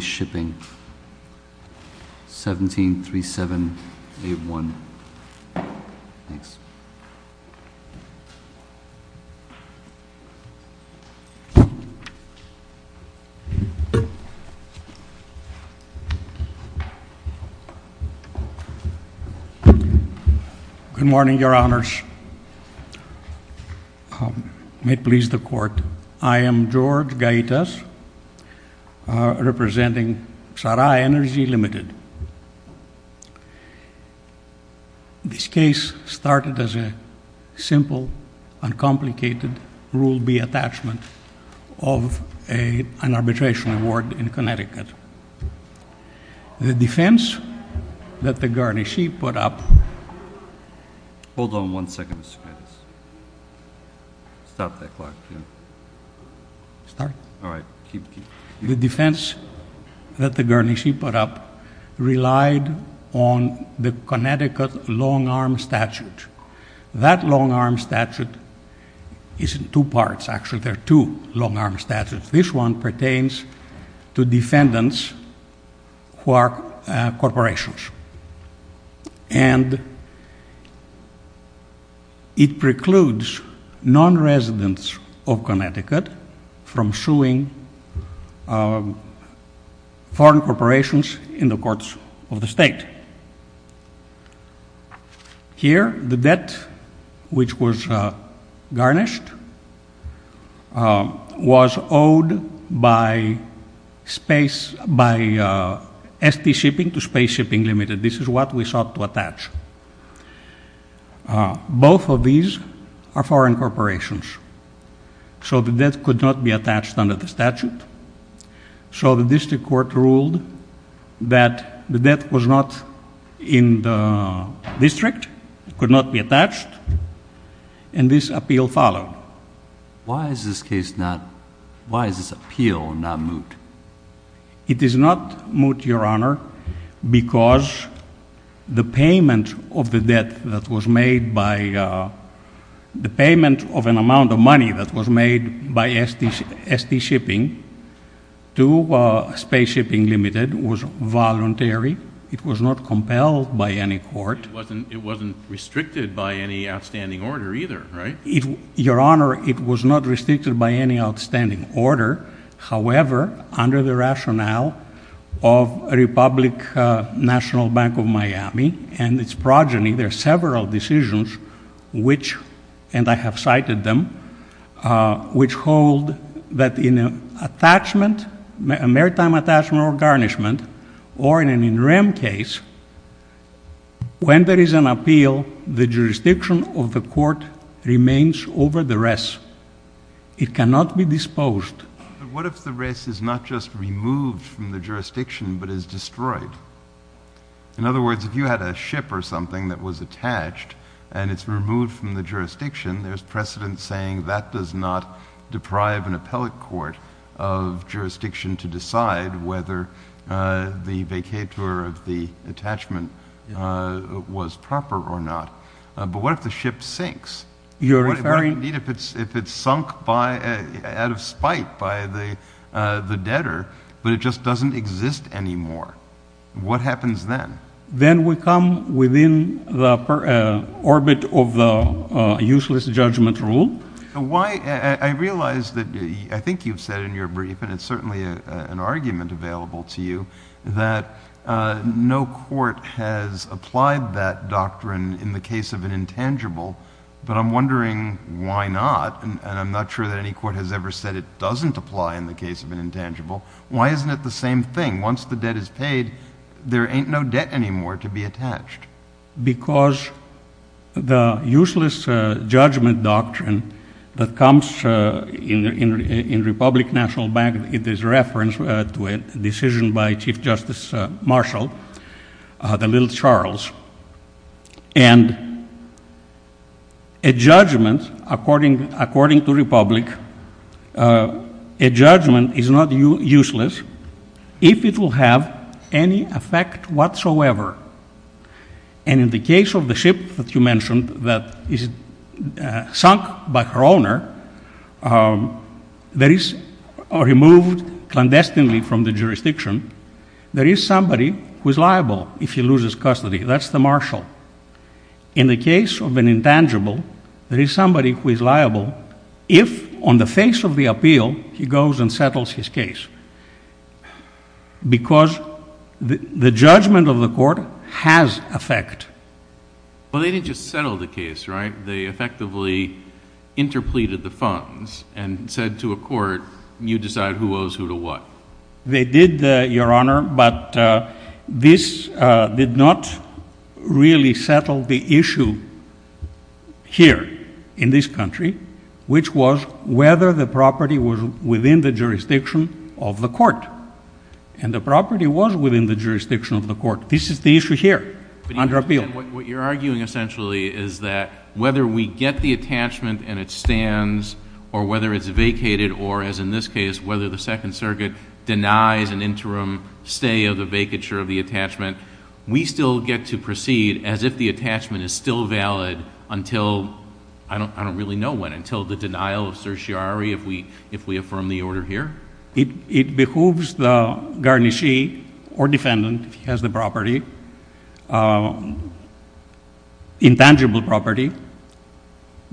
Shipping, 1737A1. Thanks. Good morning, your honors. May it please the court. I am George Gaitas, representing PSARA Energy Limited. This case started as a simple, uncomplicated Rule B attachment of an arbitration award in Connecticut. The defense that the Guernsey put up relied on the Connecticut long-arm statute. That long-arm statute is in two parts. Actually, there are two long-arm statutes. This one pertains to defendants who are corporations. And it precludes non-residents of Connecticut from suing foreign corporations in the courts of the state. Here, the debt which was garnished was owed by S.T. Shipping to Space Shipping Limited. This is what we sought to attach. Both of these are foreign corporations, so the debt could not be attached under the statute. So the district court ruled that the debt was not in the district, could not be attached, and this appeal followed. Why is this appeal not moot? It is not moot, your honor, because the payment of an amount of money that was made by S.T. Shipping to Space Shipping Limited was voluntary. It was not compelled by any court. It wasn't restricted by any outstanding order either, right? Your honor, it was not restricted by any outstanding order. However, under the rationale of Republic National Bank of Miami and its progeny, there are several decisions which, and I have cited them, which hold that in an attachment, a maritime attachment or garnishment, or in an in rem case, when there is an appeal, the jurisdiction of the court remains over the rest. It cannot be disposed. But what if the rest is not just removed from the jurisdiction but is destroyed? In other words, if you had a ship or something that was attached and it's removed from the jurisdiction, there's precedent saying that does not deprive an appellate court of jurisdiction to decide whether the vacatur of the attachment was proper or not. But what if the ship sinks? What if it's sunk out of spite by the debtor but it just doesn't exist anymore? What happens then? Then we come within the orbit of the useless judgment rule. I realize that I think you've said in your brief, and it's certainly an argument available to you, that no court has applied that doctrine in the case of an intangible, but I'm wondering why not, and I'm not sure that any court has ever said it doesn't apply in the case of an intangible. Why isn't it the same thing? Once the debt is paid, there ain't no debt anymore to be attached. Because the useless judgment doctrine that comes in Republic National Bank, it is referenced to a decision by Chief Justice Marshall, the little Charles, and a judgment, according to Republic, a judgment is not useless if it will have any effect whatsoever. And in the case of the ship that you mentioned that is sunk by her owner, that is removed clandestinely from the jurisdiction, there is somebody who is liable if he loses custody. That's the Marshall. In the case of an intangible, there is somebody who is liable if, on the face of the appeal, he goes and settles his case because the judgment of the court has effect. Well, they didn't just settle the case, right? They effectively interpleaded the funds and said to a court, you decide who owes who to what. They did, Your Honor, but this did not really settle the issue here in this country, which was whether the property was within the jurisdiction of the court. And the property was within the jurisdiction of the court. This is the issue here under appeal. And what you're arguing essentially is that whether we get the attachment and it stands or whether it's vacated or, as in this case, whether the Second Circuit denies an interim stay of the vacature of the attachment, we still get to proceed as if the attachment is still valid until I don't really know when, until the denial of certiorari if we affirm the order here? It behooves the garnishee or defendant, if he has the property, intangible property,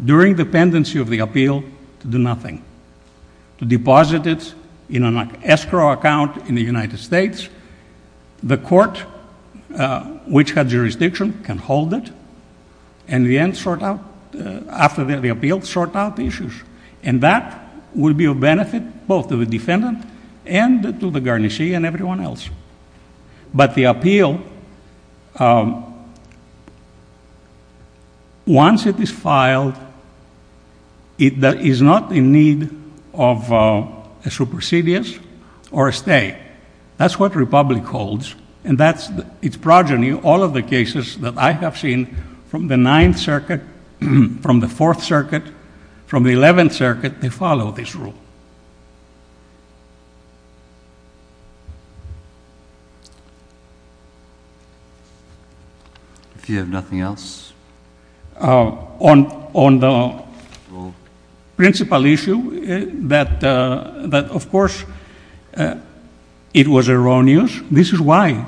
during the pendency of the appeal to do nothing, to deposit it in an escrow account in the United States. The court, which had jurisdiction, can hold it and, in the end, sort out, after the appeal, sort out the issues. And that will be of benefit both to the defendant and to the garnishee and everyone else. But the appeal, once it is filed, is not in need of a supersedious or a stay. That's what Republic holds, and that's its progeny, all of the cases that I have seen from the Ninth Circuit, from the Fourth Circuit, from the Eleventh Circuit, they follow this rule. If you have nothing else? On the principal issue, that, of course, it was erroneous. This is why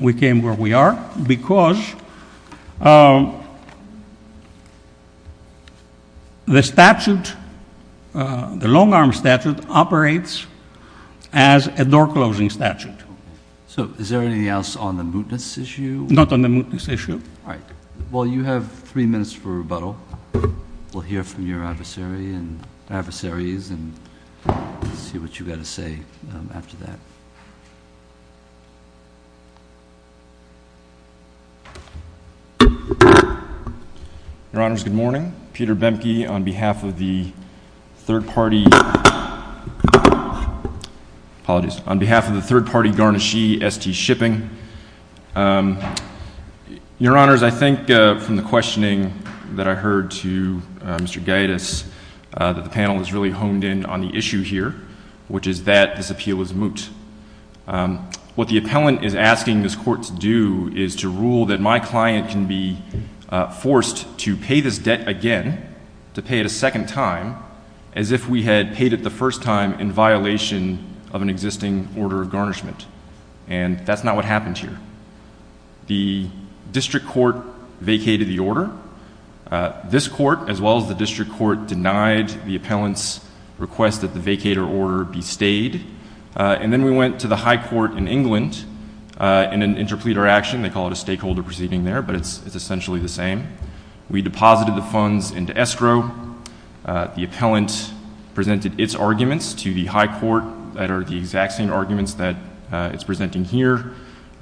we came where we are, because the statute, the long-arm statute, operates as a door-closing statute. So is there anything else on the mootness issue? Not on the mootness issue. All right. Well, you have three minutes for rebuttal. We'll hear from your adversaries and see what you've got to say after that. Your Honors, good morning. I'm Peter Bemke on behalf of the third-party garnishee, S.T. Shipping. Your Honors, I think from the questioning that I heard to Mr. Gaitis that the panel has really honed in on the issue here, which is that this appeal is moot. What the appellant is asking this court to do is to rule that my client can be forced to pay this debt again, to pay it a second time, as if we had paid it the first time in violation of an existing order of garnishment. And that's not what happened here. The district court vacated the order. This court, as well as the district court, denied the appellant's request that the vacated order be stayed. And then we went to the high court in England in an interpleader action. They call it a stakeholder proceeding there, but it's essentially the same. We deposited the funds into escrow. The appellant presented its arguments to the high court that are the exact same arguments that it's presenting here,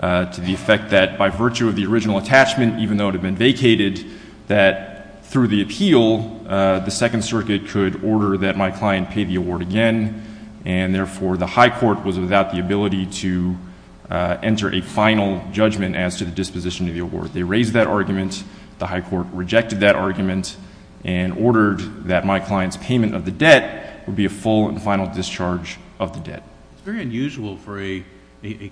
to the effect that by virtue of the original attachment, even though it had been vacated, that through the appeal, the Second Circuit could order that my client pay the award again, and therefore the high court was without the ability to enter a final judgment as to the disposition of the award. They raised that argument. The high court rejected that argument and ordered that my client's payment of the debt would be a full and final discharge of the debt. It's very unusual for a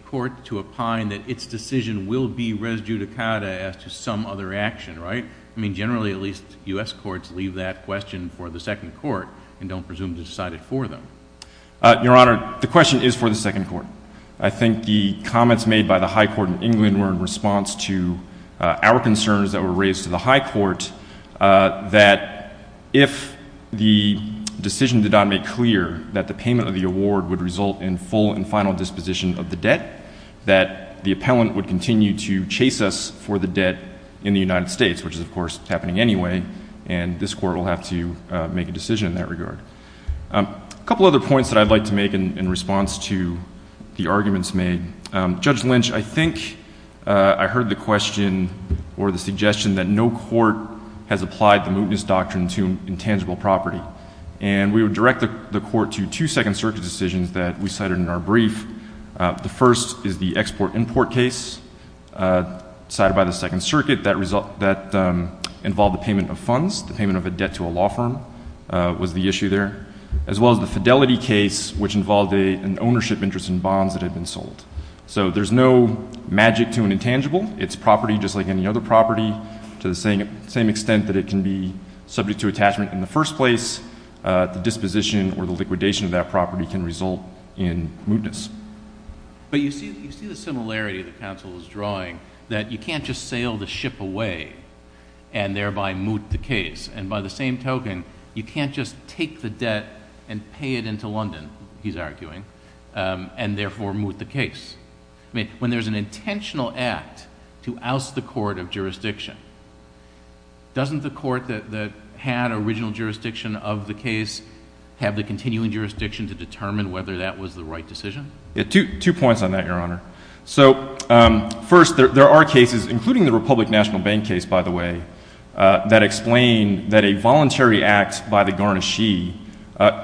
court to opine that its decision will be res judicata as to some other action, right? I mean, generally at least U.S. courts leave that question for the second court and don't presume to decide it for them. Your Honor, the question is for the second court. I think the comments made by the high court in England were in response to our concerns that were raised to the high court that if the decision did not make clear that the payment of the award would result in full and final disposition of the debt, that the appellant would continue to chase us for the debt in the United States, which is, of course, happening anyway, and this court will have to make a decision in that regard. A couple other points that I'd like to make in response to the arguments made. Judge Lynch, I think I heard the question or the suggestion that no court has applied the mootness doctrine to intangible property, and we would direct the court to two Second Circuit decisions that we cited in our brief. The first is the export-import case cited by the Second Circuit that involved the payment of funds, the payment of a debt to a law firm was the issue there, as well as the fidelity case, which involved an ownership interest in bonds that had been sold. So there's no magic to an intangible. It's property just like any other property to the same extent that it can be subject to attachment in the first place. The disposition or the liquidation of that property can result in mootness. But you see the similarity the counsel is drawing, that you can't just sail the ship away and thereby moot the case, and by the same token, you can't just take the debt and pay it into London, he's arguing, and therefore moot the case. I mean, when there's an intentional act to oust the court of jurisdiction, doesn't the court that had original jurisdiction of the case have the continuing jurisdiction to determine whether that was the right decision? Two points on that, Your Honor. So first, there are cases, including the Republic National Bank case, by the way, that explain that a voluntary act by the garnishee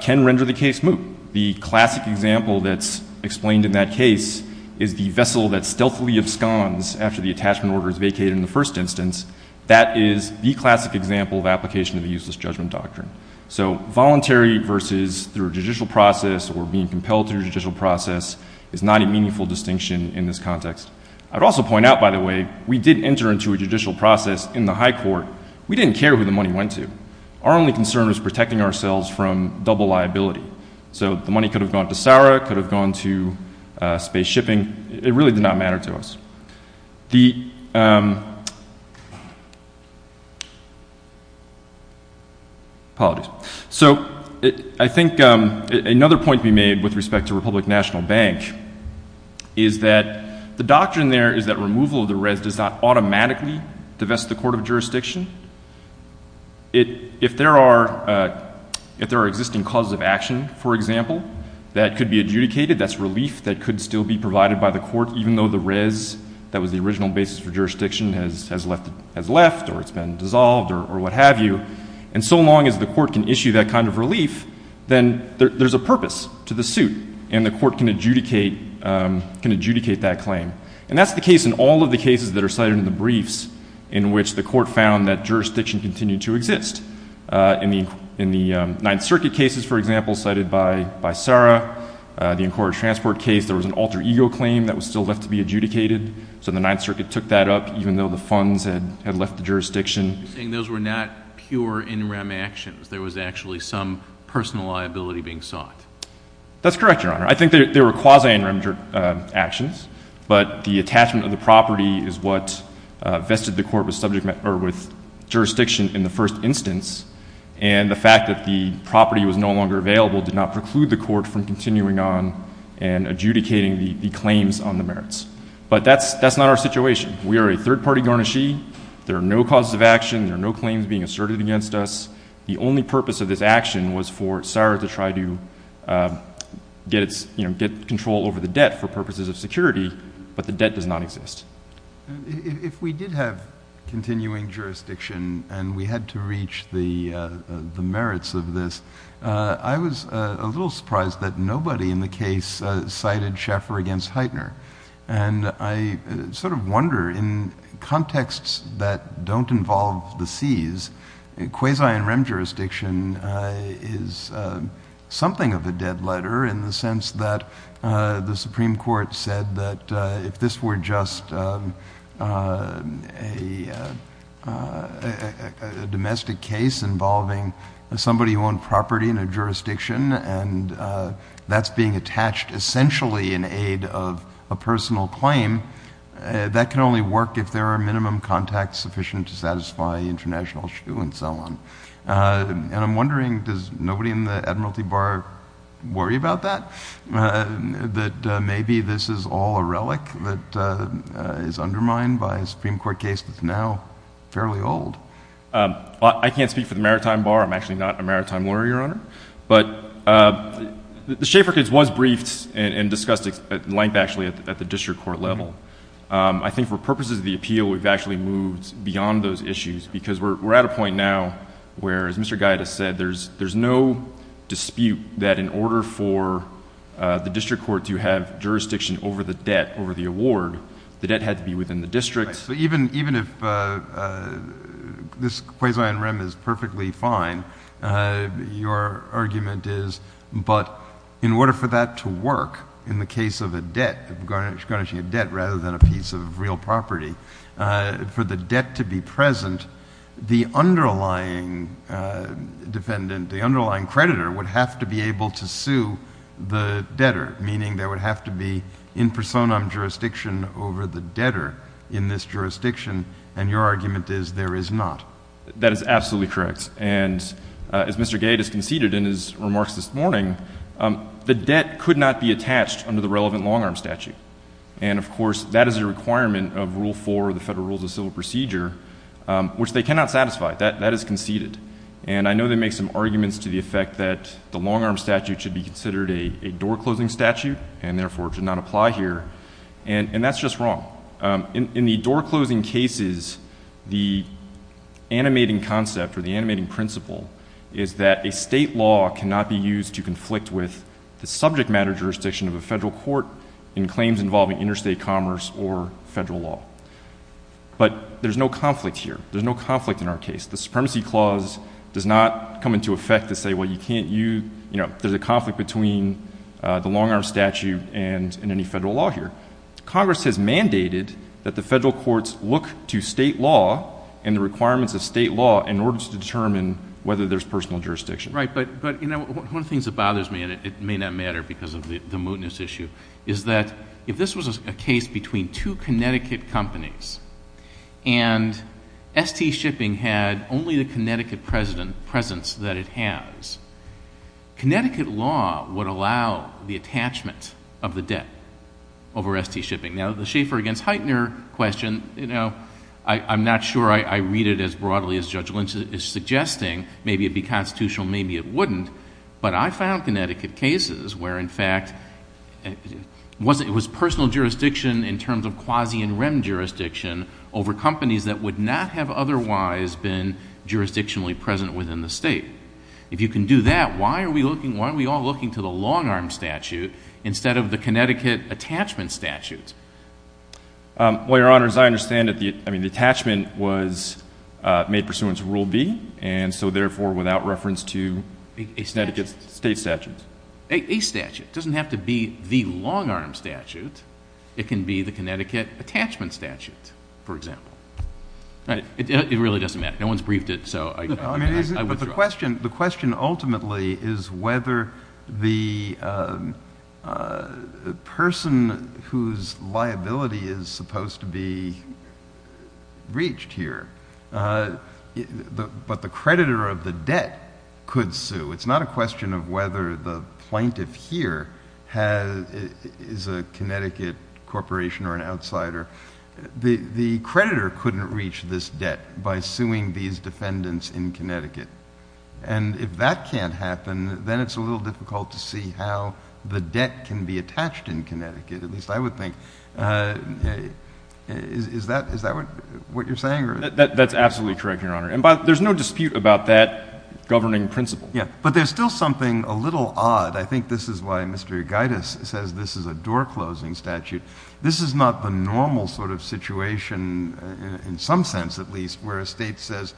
can render the case moot. The classic example that's explained in that case is the vessel that stealthily absconds after the attachment order is vacated in the first instance. That is the classic example of application of the useless judgment doctrine. So voluntary versus through a judicial process or being compelled through a judicial process is not a meaningful distinction in this context. I'd also point out, by the way, we did enter into a judicial process in the high court. We didn't care who the money went to. Our only concern was protecting ourselves from double liability. So the money could have gone to SARA, could have gone to space shipping. It really did not matter to us. The ‑‑ apologies. So I think another point to be made with respect to Republic National Bank is that the doctrine there is that removal of the res does not automatically divest the court of jurisdiction. If there are existing causes of action, for example, that could be adjudicated, that's relief that could still be provided by the court even though the res that was the original basis for jurisdiction has left or it's been dissolved or what have you. And so long as the court can issue that kind of relief, then there's a purpose to the suit and the court can adjudicate that claim. And that's the case in all of the cases that are cited in the briefs in which the court found that jurisdiction continued to exist. In the Ninth Circuit cases, for example, cited by SARA, the Incorporated Transport case, there was an alter ego claim that was still left to be adjudicated. So the Ninth Circuit took that up even though the funds had left the jurisdiction. You're saying those were not pure in rem actions. There was actually some personal liability being sought. That's correct, Your Honor. I think they were quasi in rem actions. But the attachment of the property is what vested the court with jurisdiction in the first instance, and the fact that the property was no longer available did not preclude the court from continuing on and adjudicating the claims on the merits. But that's not our situation. We are a third-party garnishee. There are no causes of action. There are no claims being asserted against us. The only purpose of this action was for SARA to try to get control over the debt for purposes of security, but the debt does not exist. If we did have continuing jurisdiction and we had to reach the merits of this, I was a little surprised that nobody in the case cited Schaeffer against Heitner. And I sort of wonder, in contexts that don't involve the Cs, quasi in rem jurisdiction is something of a dead letter in the sense that the Supreme Court said that if this were just a domestic case involving somebody who owned property in a jurisdiction and that's being attached essentially in aid of a personal claim, that can only work if there are minimum contacts sufficient to satisfy international shoe and so on. And I'm wondering, does nobody in the Admiralty Bar worry about that, that maybe this is all a relic that is undermined by a Supreme Court case that's now fairly old? I can't speak for the Maritime Bar. I'm actually not a maritime lawyer, Your Honor. But the Schaeffer case was briefed and discussed at length actually at the district court level. I think for purposes of the appeal, we've actually moved beyond those issues because we're at a point now where, as Mr. Gaida said, there's no dispute that in order for the district court to have jurisdiction over the debt, over the award, the debt had to be within the district. Even if this quasi on rem is perfectly fine, your argument is, but in order for that to work in the case of a debt, of garnishing a debt rather than a piece of real property, for the debt to be present, the underlying defendant, the underlying creditor, would have to be able to sue the debtor, meaning there would have to be in personam jurisdiction over the debtor in this jurisdiction. And your argument is there is not. That is absolutely correct. And as Mr. Gaida conceded in his remarks this morning, the debt could not be attached under the relevant long-arm statute. And, of course, that is a requirement of Rule 4 of the Federal Rules of Civil Procedure, which they cannot satisfy. That is conceded. And I know they make some arguments to the effect that the long-arm statute should be considered a door-closing statute and, therefore, should not apply here. And that's just wrong. In the door-closing cases, the animating concept or the animating principle is that a state law cannot be used to conflict with the subject matter jurisdiction of a federal court in claims involving interstate commerce or federal law. But there's no conflict here. There's no conflict in our case. The Supremacy Clause does not come into effect to say, well, you can't use, you know, there's a conflict between the long-arm statute and any federal law here. Congress has mandated that the federal courts look to state law and the requirements of state law in order to determine whether there's personal jurisdiction. Right, but, you know, one of the things that bothers me, and it may not matter because of the mootness issue, is that if this was a case between two Connecticut companies and S.T. Shipping had only the Connecticut presence that it has, Connecticut law would allow the attachment of the debt over S.T. Shipping. Now, the Schaeffer against Heitner question, you know, I'm not sure I read it as broadly as Judge Lynch is suggesting. Maybe it would be constitutional, maybe it wouldn't. But I found Connecticut cases where, in fact, it was personal jurisdiction in terms of quasi and rem jurisdiction over companies that would not have otherwise been jurisdictionally present within the state. If you can do that, why are we all looking to the long-arm statute instead of the Connecticut attachment statutes? Well, Your Honors, I understand that the attachment was made pursuant to Rule B, and so therefore without reference to Connecticut state statutes. A statute. It doesn't have to be the long-arm statute. It can be the Connecticut attachment statute, for example. It really doesn't matter. No one's briefed it, so I withdraw. The question ultimately is whether the person whose liability is supposed to be reached here, but the creditor of the debt could sue. It's not a question of whether the plaintiff here is a Connecticut corporation or an outsider. The creditor couldn't reach this debt by suing these defendants in Connecticut. And if that can't happen, then it's a little difficult to see how the debt can be attached in Connecticut, at least I would think. Is that what you're saying? That's absolutely correct, Your Honor. And there's no dispute about that governing principle. Yeah, but there's still something a little odd. I think this is why Mr. Gaitis says this is a door-closing statute. This is not the normal sort of situation, in some sense at least, where a state says,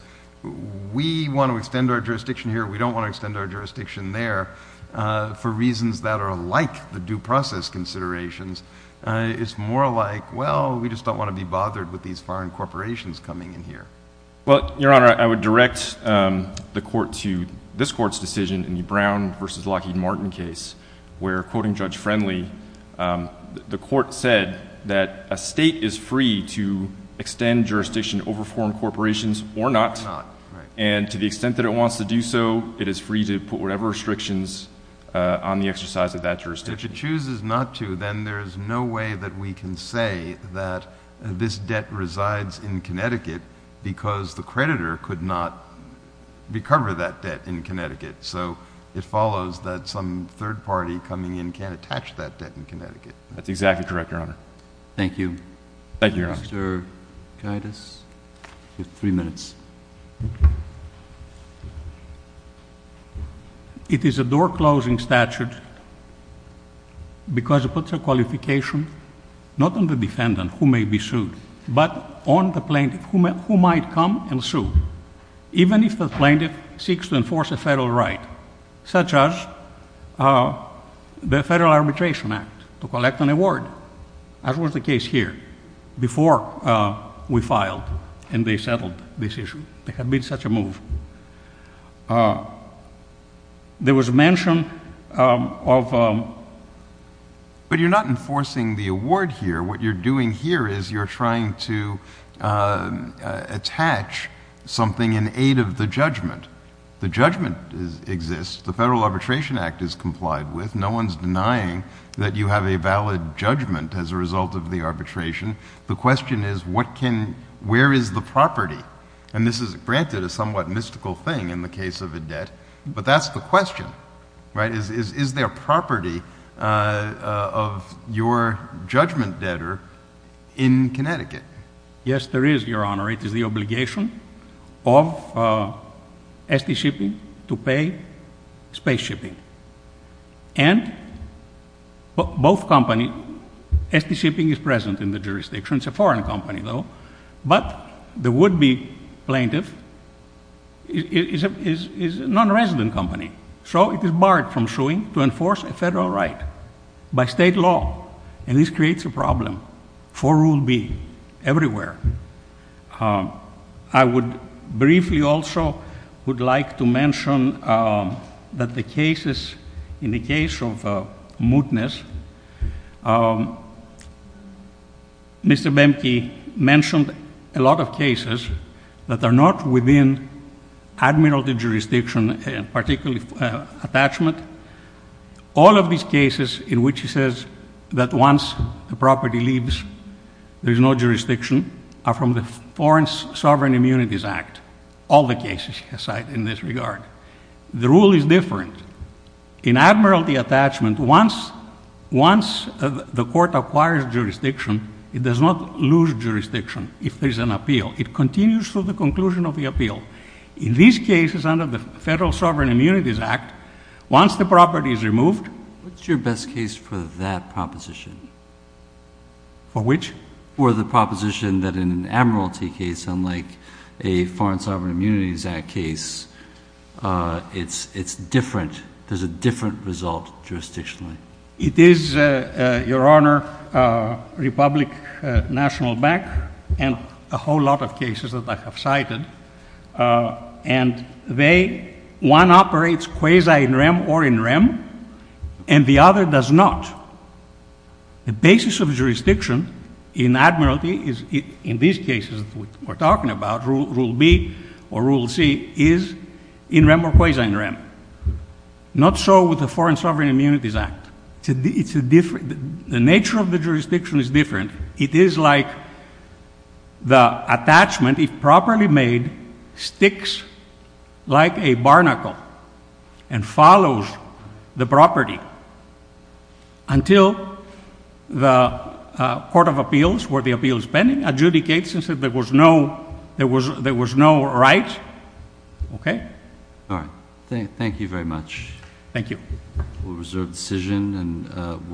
we want to extend our jurisdiction here, we don't want to extend our jurisdiction there, for reasons that are like the due process considerations. It's more like, well, we just don't want to be bothered with these foreign corporations coming in here. Well, Your Honor, I would direct the court to this court's decision in the Brown v. Lockheed Martin case, where, quoting Judge Friendly, the court said that a state is free to extend jurisdiction over foreign corporations or not. And to the extent that it wants to do so, it is free to put whatever restrictions on the exercise of that jurisdiction. If it chooses not to, then there is no way that we can say that this debt resides in Connecticut because the creditor could not recover that debt in Connecticut. So it follows that some third party coming in can't attach that debt in Connecticut. That's exactly correct, Your Honor. Thank you. Thank you, Your Honor. Thank you, Mr. Gaitis. You have three minutes. It is a door-closing statute because it puts a qualification, not on the defendant who may be sued, but on the plaintiff who might come and sue, even if the plaintiff seeks to enforce a federal right, such as the Federal Arbitration Act, to collect an award, as was the case here, before we filed and they settled this issue. There had been such a move. There was mention of— But you're not enforcing the award here. What you're doing here is you're trying to attach something in aid of the judgment. The judgment exists. The Federal Arbitration Act is complied with. No one is denying that you have a valid judgment as a result of the arbitration. The question is, where is the property? And this is, granted, a somewhat mystical thing in the case of a debt, but that's the question, right? Is there property of your judgment debtor in Connecticut? Yes, there is, Your Honor. It is the obligation of S.T. Shipping to pay space shipping. And both companies—S.T. Shipping is present in the jurisdiction. It's a foreign company, though. But the would-be plaintiff is a nonresident company. So it is barred from suing to enforce a federal right by state law. And this creates a problem for rule B everywhere. I would briefly also would like to mention that the cases in the case of Mootness, Mr. Bemke mentioned a lot of cases that are not within admiralty jurisdiction, particularly attachment. All of these cases in which he says that once the property leaves, there is no jurisdiction, are from the Foreign Sovereign Immunities Act, all the cases he has cited in this regard. The rule is different. In admiralty attachment, once the court acquires jurisdiction, it does not lose jurisdiction if there is an appeal. It continues through the conclusion of the appeal. In these cases under the Federal Sovereign Immunities Act, once the property is removed— What's your best case for that proposition? For which? For the proposition that in an admiralty case, unlike a Foreign Sovereign Immunities Act case, it's different. There's a different result jurisdictionally. It is, Your Honor, Republic National Bank and a whole lot of cases that I have cited. And they—one operates quasi-in rem or in rem, and the other does not. The basis of jurisdiction in admiralty is, in these cases that we're talking about, Rule B or Rule C is in rem or quasi-in rem. Not so with the Foreign Sovereign Immunities Act. It's a different—the nature of the jurisdiction is different. It is like the attachment, if properly made, sticks like a barnacle and follows the property. Until the Court of Appeals, where the appeal is pending, adjudicates and says there was no right. Okay? All right. Thank you very much. Thank you. We'll reserve the decision.